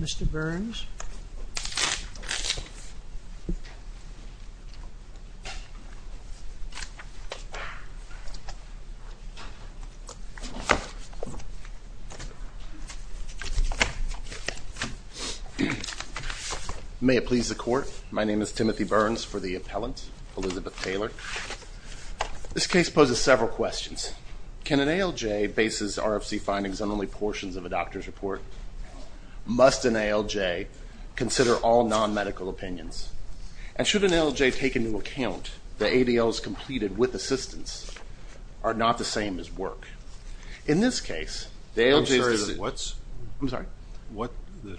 Mr. Burns May it please the court. My name is Timothy Burns for the appellant Elizabeth Taylor This case poses several questions Can an ALJ bases RFC findings on only portions of a doctor's report? Must an ALJ Consider all non-medical opinions and should an ALJ take into account the ADLs completed with assistance Are not the same as work. In this case, the ALJ is the suit. I'm sorry, what's?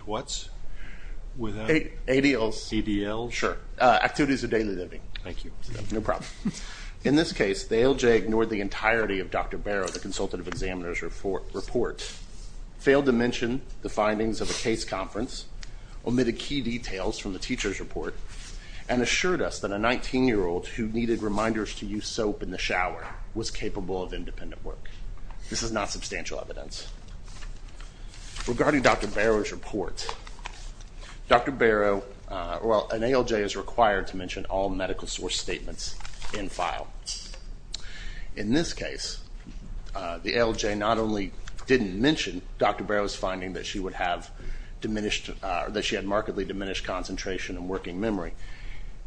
What's? ADLs. Sure, activities of daily living. Thank you. No problem. In this case The ALJ ignored the entirety of Dr. Barrow, the consultative examiner's report failed to mention the findings of a case conference omitted key details from the teacher's report and Assured us that a 19 year old who needed reminders to use soap in the shower was capable of independent work This is not substantial evidence Regarding Dr. Barrow's report Dr. Barrow, well an ALJ is required to mention all medical source statements in file in this case The ALJ not only didn't mention. Dr. Barrow's finding that she would have Diminished or that she had markedly diminished concentration and working memory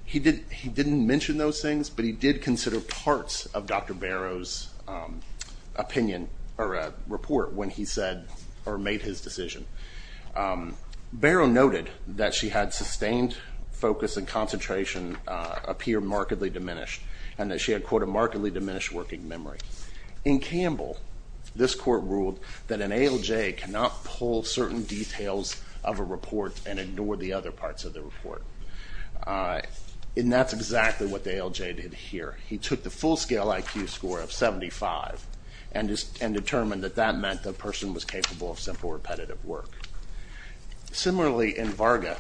He did he didn't mention those things, but he did consider parts of Dr. Barrow's Opinion or a report when he said or made his decision Barrow noted that she had sustained focus and concentration Appear markedly diminished and that she had quote a markedly diminished working memory. In Campbell This court ruled that an ALJ cannot pull certain details of a report and ignore the other parts of the report And that's exactly what the ALJ did here He took the full-scale IQ score of 75 and just and determined that that meant the person was capable of simple repetitive work Similarly in Varga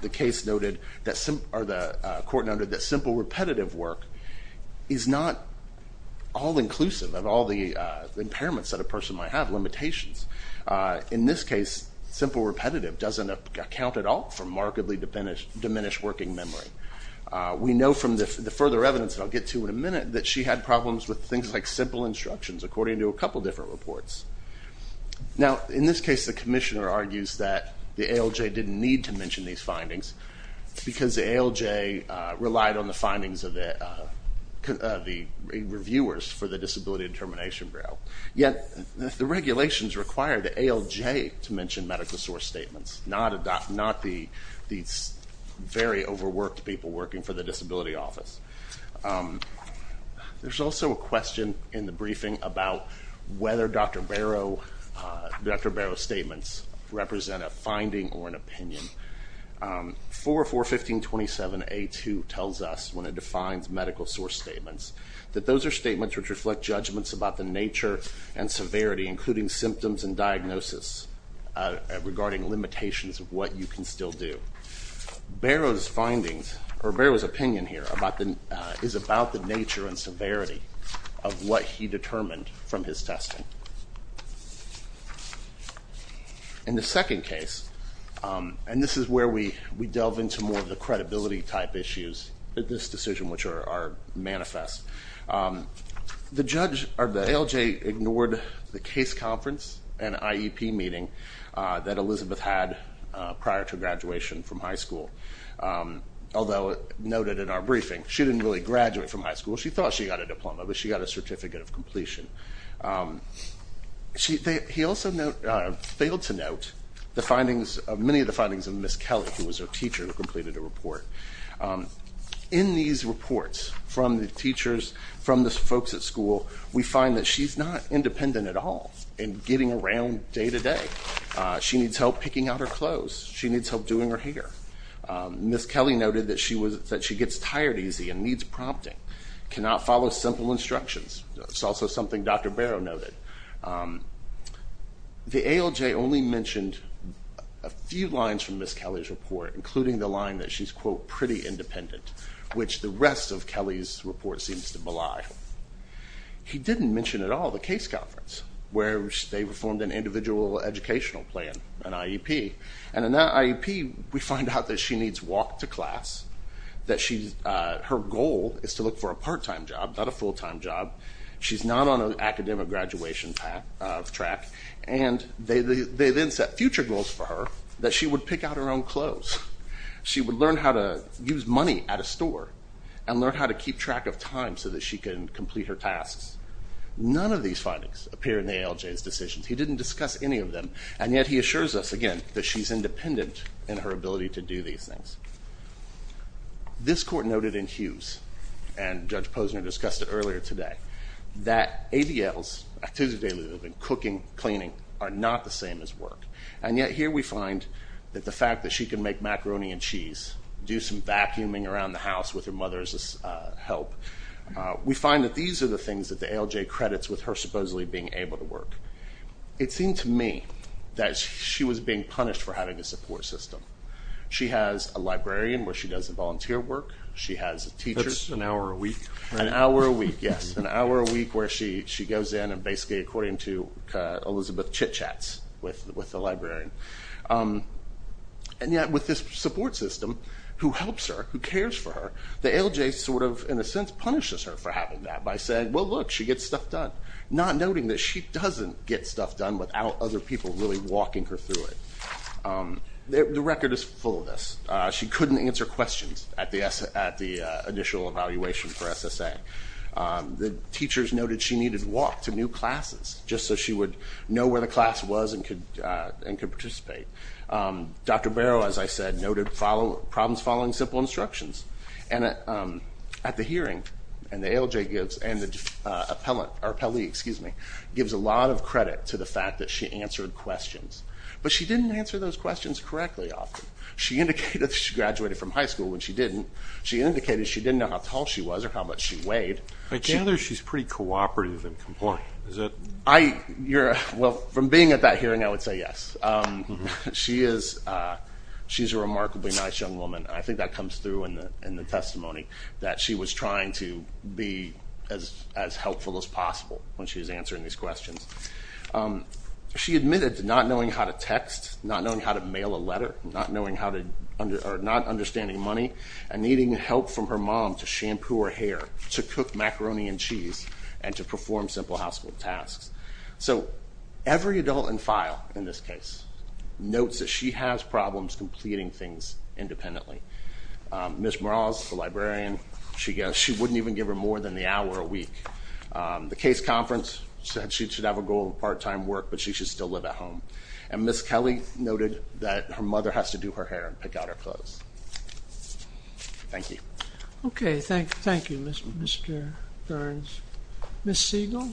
the case noted that some are the court noted that simple repetitive work is not all inclusive of all the impairments that a person might have limitations In this case simple repetitive doesn't account at all for markedly diminished diminished working memory We know from the further evidence that I'll get to in a minute that she had problems with things like simple instructions according to a couple different reports Now in this case the Commissioner argues that the ALJ didn't need to mention these findings because the ALJ relied on the findings of the the reviewers for the Disability Determination Bureau yet the regulations require the ALJ to mention medical source statements not not the very overworked people working for the Disability Office There's also a question in the briefing about whether Dr. Barrow Dr. Barrow's statements represent a finding or an opinion 4.4.15.27a2 tells us when it defines medical source statements that those are statements which reflect judgments about the nature and severity including symptoms and diagnosis regarding limitations of what you can still do Barrow's findings or Barrow's opinion here about the is about the nature and severity of what he determined from his testing In the second case And this is where we we delve into more of the credibility type issues that this decision which are manifest The judge or the ALJ ignored the case conference and IEP meeting that Elizabeth had prior to graduation from high school Although it noted in our briefing. She didn't really graduate from high school. She thought she got a diploma But she got a certificate of completion She he also Failed to note the findings of many of the findings of Miss Kelly who was her teacher who completed a report In these reports from the teachers from the folks at school We find that she's not independent at all and getting around day to day She needs help picking out her clothes she needs help doing her hair Miss Kelly noted that she was that she gets tired easy and needs prompting cannot follow simple instructions. It's also something. Dr. Barrow noted The ALJ only mentioned a Few lines from Miss Kelly's report including the line that she's quote pretty independent which the rest of Kelly's report seems to belie He didn't mention at all the case conference where they performed an individual educational plan an IEP and in that IEP We find out that she needs walk to class That she's her goal is to look for a part-time job. Not a full-time job She's not on an academic graduation path of track and they they then set future goals for her that she would pick out her own clothes She would learn how to use money at a store and learn how to keep track of time so that she can complete her tasks None of these findings appear in the ALJ's decisions He didn't discuss any of them and yet he assures us again that she's independent in her ability to do these things This court noted in Hughes and Judge Posner discussed it earlier today That ADL's Cooking cleaning are not the same as work and yet here we find that the fact that she can make macaroni and cheese Do some vacuuming around the house with her mother's help? We find that these are the things that the ALJ credits with her supposedly being able to work It seemed to me that she was being punished for having a support system She has a librarian where she does the volunteer work. She has a teacher's an hour a week an hour a week Yes an hour a week where she she goes in and basically according to Elizabeth chitchats with with the librarian And yet with this support system Who helps her who cares for her the ALJ sort of in a sense punishes her for having that by saying well Look, she gets stuff done not noting that she doesn't get stuff done without other people really walking her through it The record is full of this. She couldn't answer questions at the S at the initial evaluation for SSA The teachers noted she needed walk to new classes just so she would know where the class was and could and could participate Dr. Barrow, as I said noted follow problems following simple instructions and at the hearing and the ALJ gives and the Appellant or Pele excuse me gives a lot of credit to the fact that she answered questions But she didn't answer those questions correctly often She indicated she graduated from high school when she didn't she indicated she didn't know how tall she was or how much she weighed But you know, she's pretty cooperative and compliant. Is that I you're well from being at that hearing. I would say yes she is She's a remarkably nice young woman I think that comes through in the in the testimony that she was trying to be as as helpful as possible When she was answering these questions She admitted to not knowing how to text not knowing how to mail a letter not knowing how to Not understanding money and needing help from her mom to shampoo her hair to cook macaroni and cheese and to perform simple household tasks, so Every adult in file in this case Notes that she has problems completing things independently Miss Morales the librarian. She goes she wouldn't even give her more than the hour a week The case conference said she should have a goal of part-time work But she should still live at home and miss Kelly noted that her mother has to do her hair and pick out her clothes Thank you, okay. Thank you. Thank you. Mr. Mr. Burns miss Siegel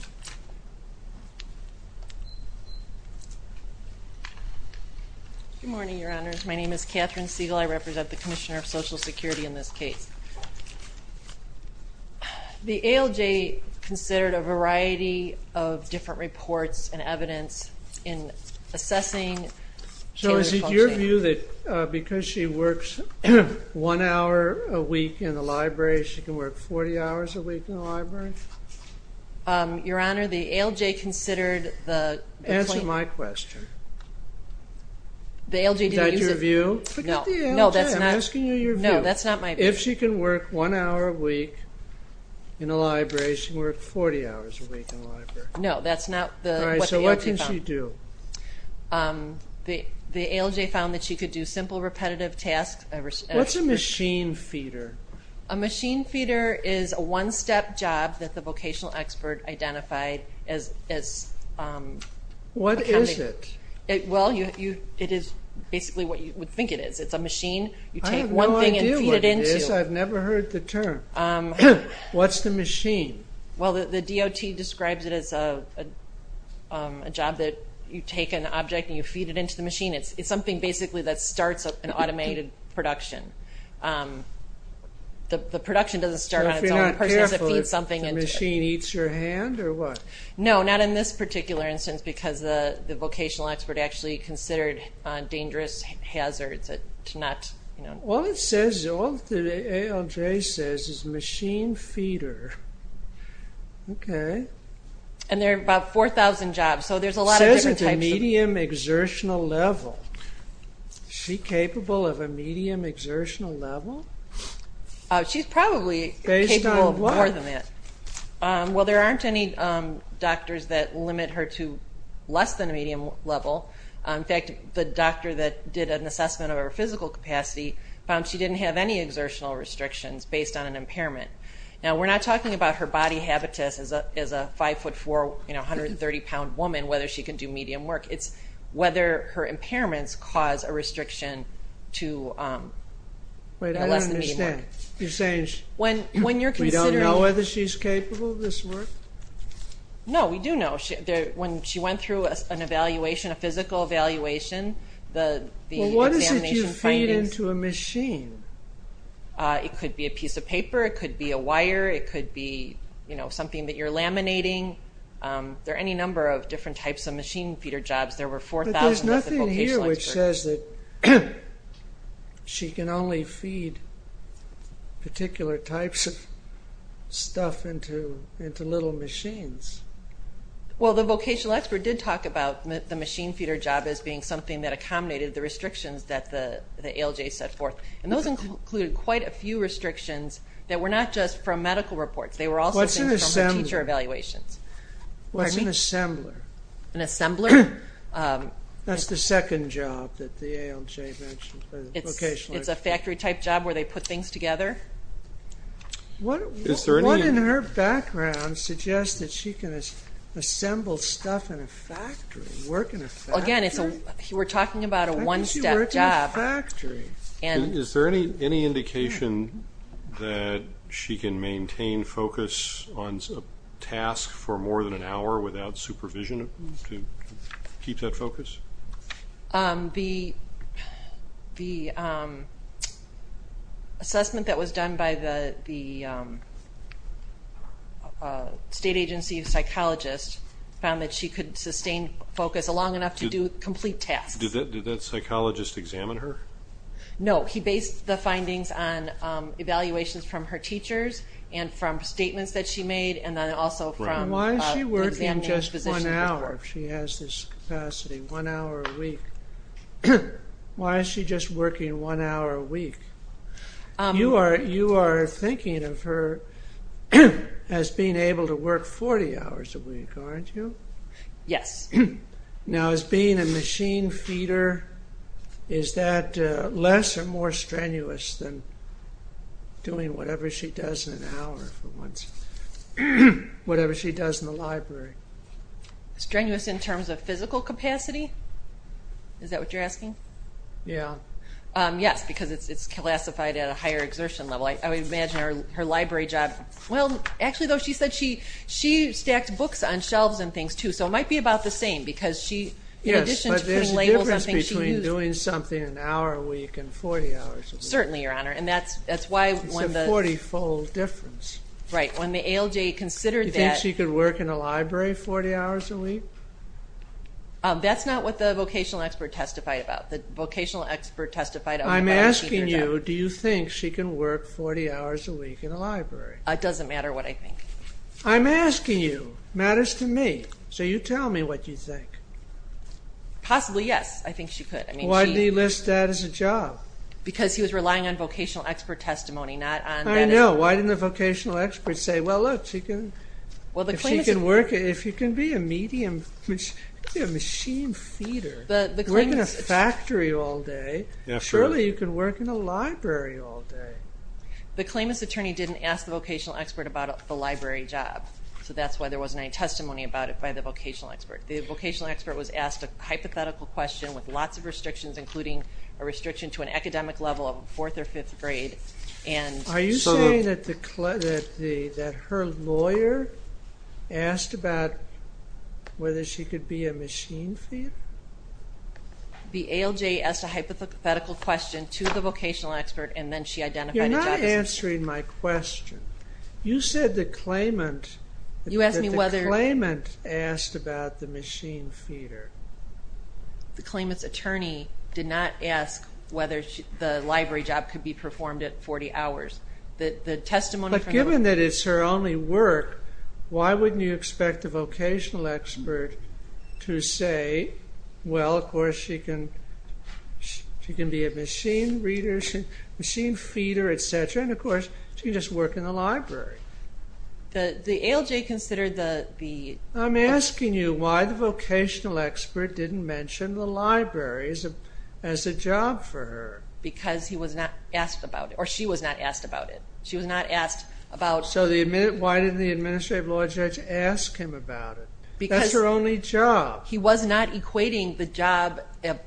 Good morning, your honors. My name is Catherine Siegel. I represent the Commissioner of Social Security in this case The ALJ Considered a variety of different reports and evidence in So is it your view that because she works? One hour a week in the library. She can work 40 hours a week in the library Your honor the ALJ considered the answer my question The ALJ that your view no, no, that's not asking you. No, that's not my if she can work one hour a week In a library she worked 40 hours a week in the library. No, that's not the so what can she do? The the ALJ found that she could do simple repetitive tasks what's a machine feeder a machine feeder is a one-step job that the vocational expert identified as What is it it well you you it is basically what you would think it is It's a machine you take one thing and feed it into I've never heard the term What's the machine? Well, the the DOT describes it as a Job that you take an object and you feed it into the machine. It's it's something basically that starts up an automated production The the production doesn't start Something in the machine eats your hand or what? No, not in this particular instance because the the vocational expert actually considered Dangerous hazards it to not you know, well, it says all the ALJ says is machine feeder Okay, and there are about 4,000 jobs, so there's a lot of medium exertional level She capable of a medium exertional level She's probably based on one of them it Well, there aren't any Doctors that limit her to less than a medium level In fact the doctor that did an assessment of her physical capacity found She didn't have any exertional restrictions based on an impairment now We're not talking about her body habitus as a as a 5 foot 4, you know, 130 pound woman whether she can do medium work it's whether her impairments cause a restriction to Wait, I understand you're saying when when you're considering whether she's capable of this work No, we do know she there when she went through an evaluation a physical evaluation the Feed-in to a machine It could be a piece of paper. It could be a wire. It could be, you know, something that you're laminating There any number of different types of machine feeder jobs. There were 4,000 She can only feed particular types of Into little machines Well, the vocational expert did talk about the machine feeder job as being something that accommodated the restrictions that the the ALJ set forth And those included quite a few restrictions that were not just from medical reports. They were also teacher evaluations What's an assembler an assembler? That's the second job that the ALJ mentioned It's a factory type job where they put things together What is there in her background suggests that she can Assemble stuff in a factory working again. It's a we're talking about a one-step job Factory and is there any any indication that? She can maintain focus on a task for more than an hour without supervision to keep that focus the the Assessment that was done by the State agency of psychologists found that she could sustain focus a long enough to do complete tasks Did that did that psychologist examine her? No, he based the findings on Evaluations from her teachers and from statements that she made and then also from why she worked in just one hour She has this capacity one hour a week Why is she just working one hour a week You are you are thinking of her? Yeah as being able to work 40 hours a week, aren't you? Yes Now as being a machine feeder Is that less or more strenuous than? Doing whatever she does in an hour for once Whatever she does in the library strenuous in terms of physical capacity Is that what you're asking? Yeah Yes, because it's classified at a higher exertion level. I would imagine her library job Well, actually though she said she she stacked books on shelves and things too So it might be about the same because she yes But there's a difference between doing something an hour a week and 40 hours certainly your honor And that's that's why when the 40 fold difference right when the ALJ considered that she could work in a library 40 hours a week That's not what the vocational expert testified about the vocational expert testified I'm asking you do you think she can work 40 hours a week in a library? It doesn't matter what I think I'm asking you matters to me. So you tell me what you think Possibly. Yes, I think she could I mean why do you list that as a job? Because he was relying on vocational expert testimony not I know why didn't the vocational experts say? Well, if she can work if you can be a medium machine feeder Factory all day. Yeah, surely you can work in a library all day The claimants attorney didn't ask the vocational expert about the library job So that's why there wasn't any testimony about it by the vocational expert the vocational expert was asked a hypothetical question with lots of restrictions including a restriction to an academic level of a fourth or fifth grade and Are you saying that her lawyer asked about Whether she could be a machine feeder The ALJ asked a hypothetical question to the vocational expert and then she identified. You're not answering my question You said the claimant you asked me whether the claimant asked about the machine feeder The claimants attorney did not ask whether the library job could be performed at 40 hours The testimony given that it's her only work. Why wouldn't you expect a vocational expert? to say well, of course she can She can be a machine readers and machine feeder, etc. And of course, she just work in the library the the ALJ considered the the I'm asking you why the Vocational expert didn't mention the libraries as a job for her because he was not asked about it She was not asked about it. She was not asked about so the minute Why didn't the administrative law judge ask him about it because her only job he was not equating the job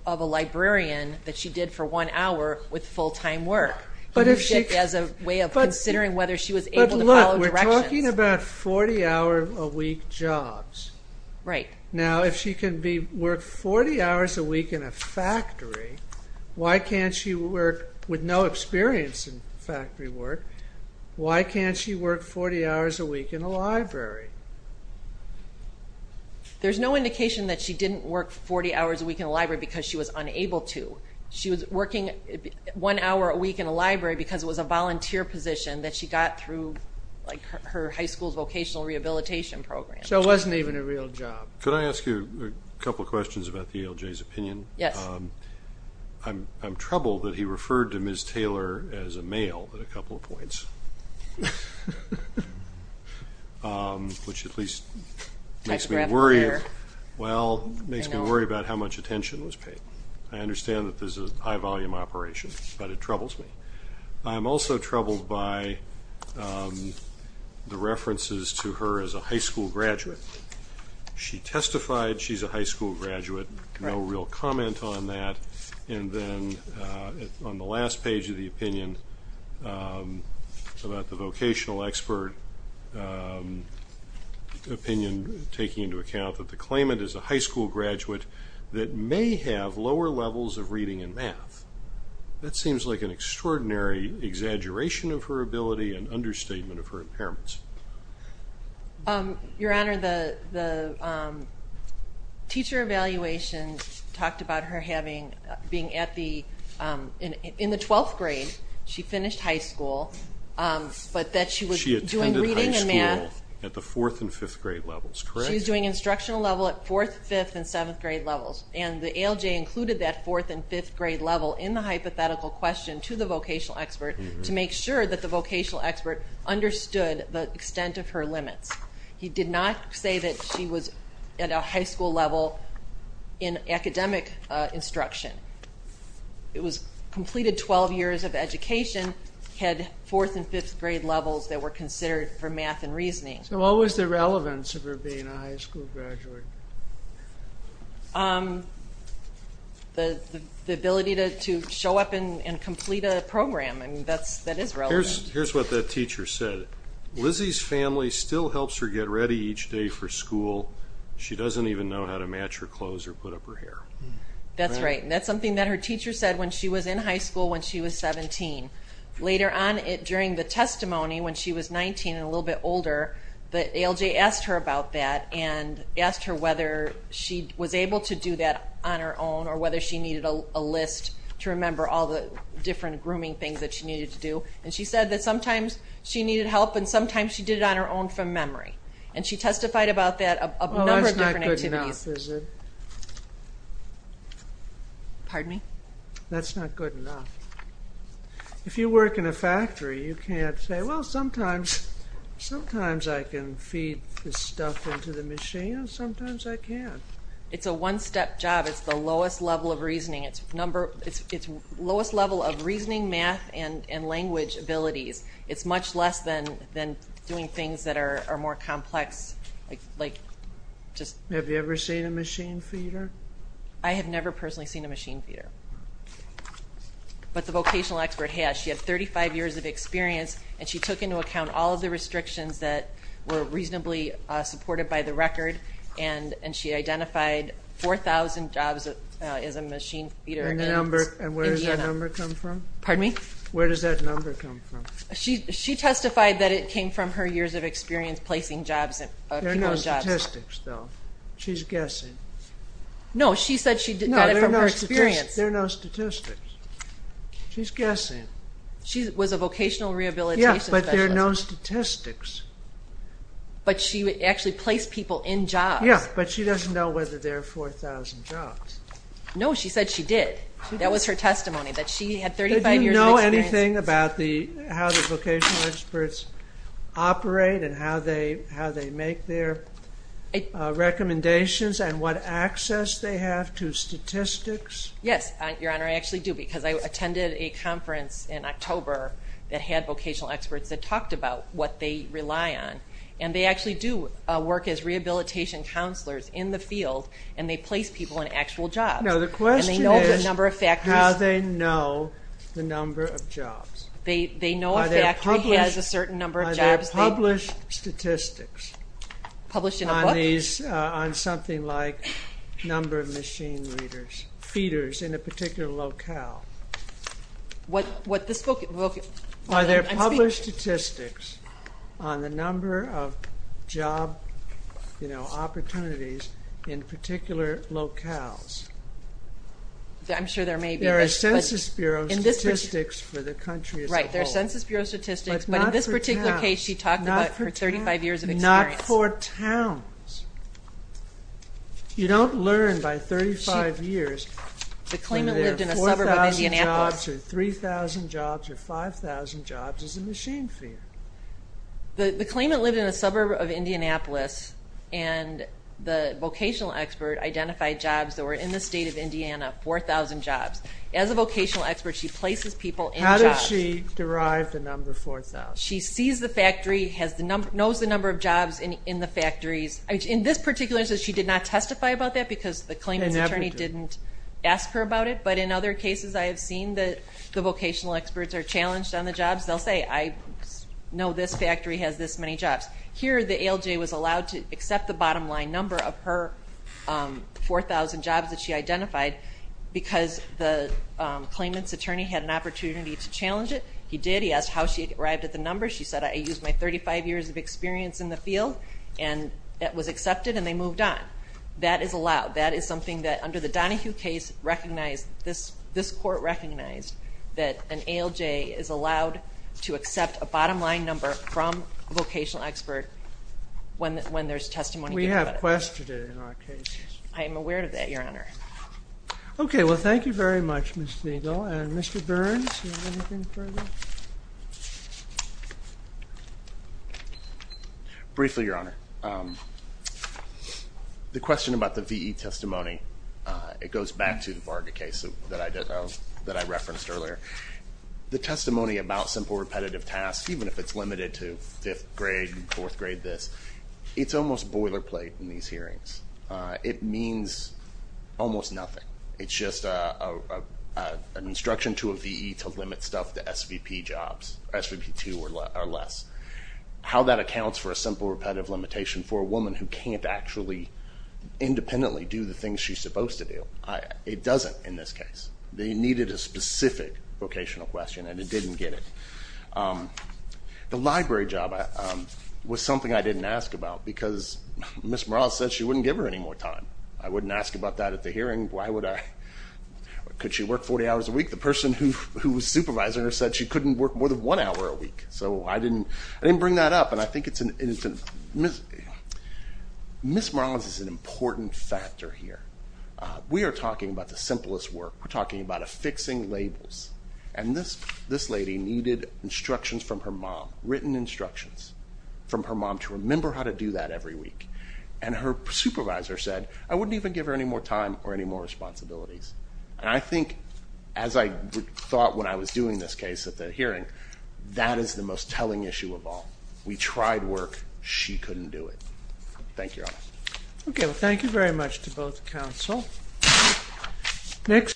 of a librarian That she did for one hour with full-time work But if she has a way of considering whether she was able to look we're talking about 40 hour a week jobs Right now if she can be worked 40 hours a week in a factory Why can't she work with no experience in factory work, why can't she work 40 hours a week in a library? There's no indication that she didn't work 40 hours a week in a library because she was unable to she was working One hour a week in a library because it was a volunteer position that she got through like her high school's vocational rehabilitation program So it wasn't even a real job. Could I ask you a couple questions about the ALJ's opinion? Yes I'm troubled that he referred to Ms. Taylor as a male at a couple of points Which at least Makes me worry Well makes me worry about how much attention was paid. I understand that there's a high volume operation, but it troubles me I'm also troubled by The references to her as a high school graduate She testified she's a high school graduate no real comment on that and then on the last page of the opinion About the vocational expert Opinion taking into account that the claimant is a high school graduate that may have lower levels of reading and math That seems like an extraordinary exaggeration of her ability and understatement of her impairments Your honor the teacher evaluation Talked about her having being at the in in the twelfth grade. She finished high school But that she was doing reading and math at the fourth and fifth grade levels She's doing instructional level at fourth fifth and seventh grade levels and the ALJ Included that fourth and fifth grade level in the hypothetical question to the vocational expert to make sure that the vocational expert Understood the extent of her limits. He did not say that she was at a high school level in academic instruction It was completed 12 years of education Had fourth and fifth grade levels that were considered for math and reasoning. So what was the relevance of her being a high school graduate? The Ability to show up and complete a program and that's that is here's what that teacher said Lizzie's family still helps her get ready each day for school. She doesn't even know how to match her clothes or put up her hair That's right And that's something that her teacher said when she was in high school when she was 17 later on it during the testimony when she was 19 and a little bit older, but ALJ asked her about that and Asked her whether she was able to do that on her own or whether she needed a list to remember all the different grooming things that she needed to do and she said that sometimes She needed help and sometimes she did it on her own from memory and she testified about that Pardon me, that's not good enough If you work in a factory, you can't say well sometimes Sometimes I can feed this stuff into the machine and sometimes I can it's a one-step job It's the lowest level of reasoning. It's number. It's lowest level of reasoning math and and language abilities It's much less than then doing things that are more complex like like Just have you ever seen a machine feeder? I have never personally seen a machine feeder But the vocational expert has she had 35 years of experience and she took into account all of the restrictions that were reasonably Supported by the record and and she identified 4,000 jobs as a machine feeder number and where does that number come from? Pardon me? Where does that number come from? She she testified that it came from her years of experience placing jobs Statistics though. She's guessing No, she said she did not know her experience there are no statistics She's guessing she was a vocational rehabilitation. Yes, but there are no statistics But she would actually place people in job. Yeah, but she doesn't know whether there are 4,000 jobs No, she said she did that was her testimony that she had 35 years know anything about the how the vocational experts operate and how they how they make their Recommendations and what access they have to statistics. Yes, your honor I actually do because I attended a conference in October that had vocational experts that talked about what they rely on and they actually do Work as rehabilitation counselors in the field and they place people in actual job No, the question is number of factors how they know the number of jobs They they know that he has a certain number of jobs published statistics Published on these on something like number of machine readers feeders in a particular locale What what this book? Are there published statistics on the number of job? You know opportunities in particular locales I'm sure there may be our Census Bureau in this statistics for the country, right? Statistics, but in this particular case, she talked about her 35 years of experience. Not for towns You don't learn by 35 years The claimant lived in a suburb of Indianapolis 3,000 jobs or 5,000 jobs as a machine feeder the the claimant lived in a suburb of Indianapolis and The vocational expert identified jobs that were in the state of Indiana 4,000 jobs as a vocational expert. She places people in how does she derive the number 4,000? She sees the factory has the number knows the number of jobs in the factories I mean in this particular says she did not testify about that because the claimant's attorney didn't ask her about it But in other cases, I have seen that the vocational experts are challenged on the jobs. They'll say I Know this factory has this many jobs here. The ALJ was allowed to accept the bottom line number of her 4,000 jobs that she identified because the Claimant's attorney had an opportunity to challenge it. He did he asked how she arrived at the number She said I used my 35 years of experience in the field and that was accepted and they moved on That is allowed that is something that under the Donahue case Recognized this this court recognized that an ALJ is allowed to accept a bottom line number from a vocational expert When when there's testimony we have questions I am aware of that your honor Okay. Well, thank you very much. Mr. Eagle and mr. Burns Briefly your honor The question about the VE testimony It goes back to the Varga case that I did know that I referenced earlier The testimony about simple repetitive tasks, even if it's limited to fifth grade and fourth grade this it's almost boilerplate in these hearings it means almost nothing, it's just a Instruction to a VE to limit stuff to SVP jobs SVP 2 or less How that accounts for a simple repetitive limitation for a woman who can't actually Independently do the things she's supposed to do. I it doesn't in this case. They needed a specific vocational question and it didn't get it The library job Was something I didn't ask about because miss Morales said she wouldn't give her any more time I wouldn't ask about that at the hearing. Why would I? Could she work 40 hours a week the person who who was supervisor said she couldn't work more than one hour a week So I didn't I didn't bring that up and I think it's an instant miss Miss Morales is an important factor here. We are talking about the simplest work We're talking about a fixing labels and this this lady needed instructions from her mom written instructions From her mom to remember how to do that every week and her supervisor said I wouldn't even give her any more time or any more Responsibilities and I think as I thought when I was doing this case at the hearing That is the most telling issue of all we tried work she couldn't do it. Thank you Okay. Well, thank you very much to both counsel next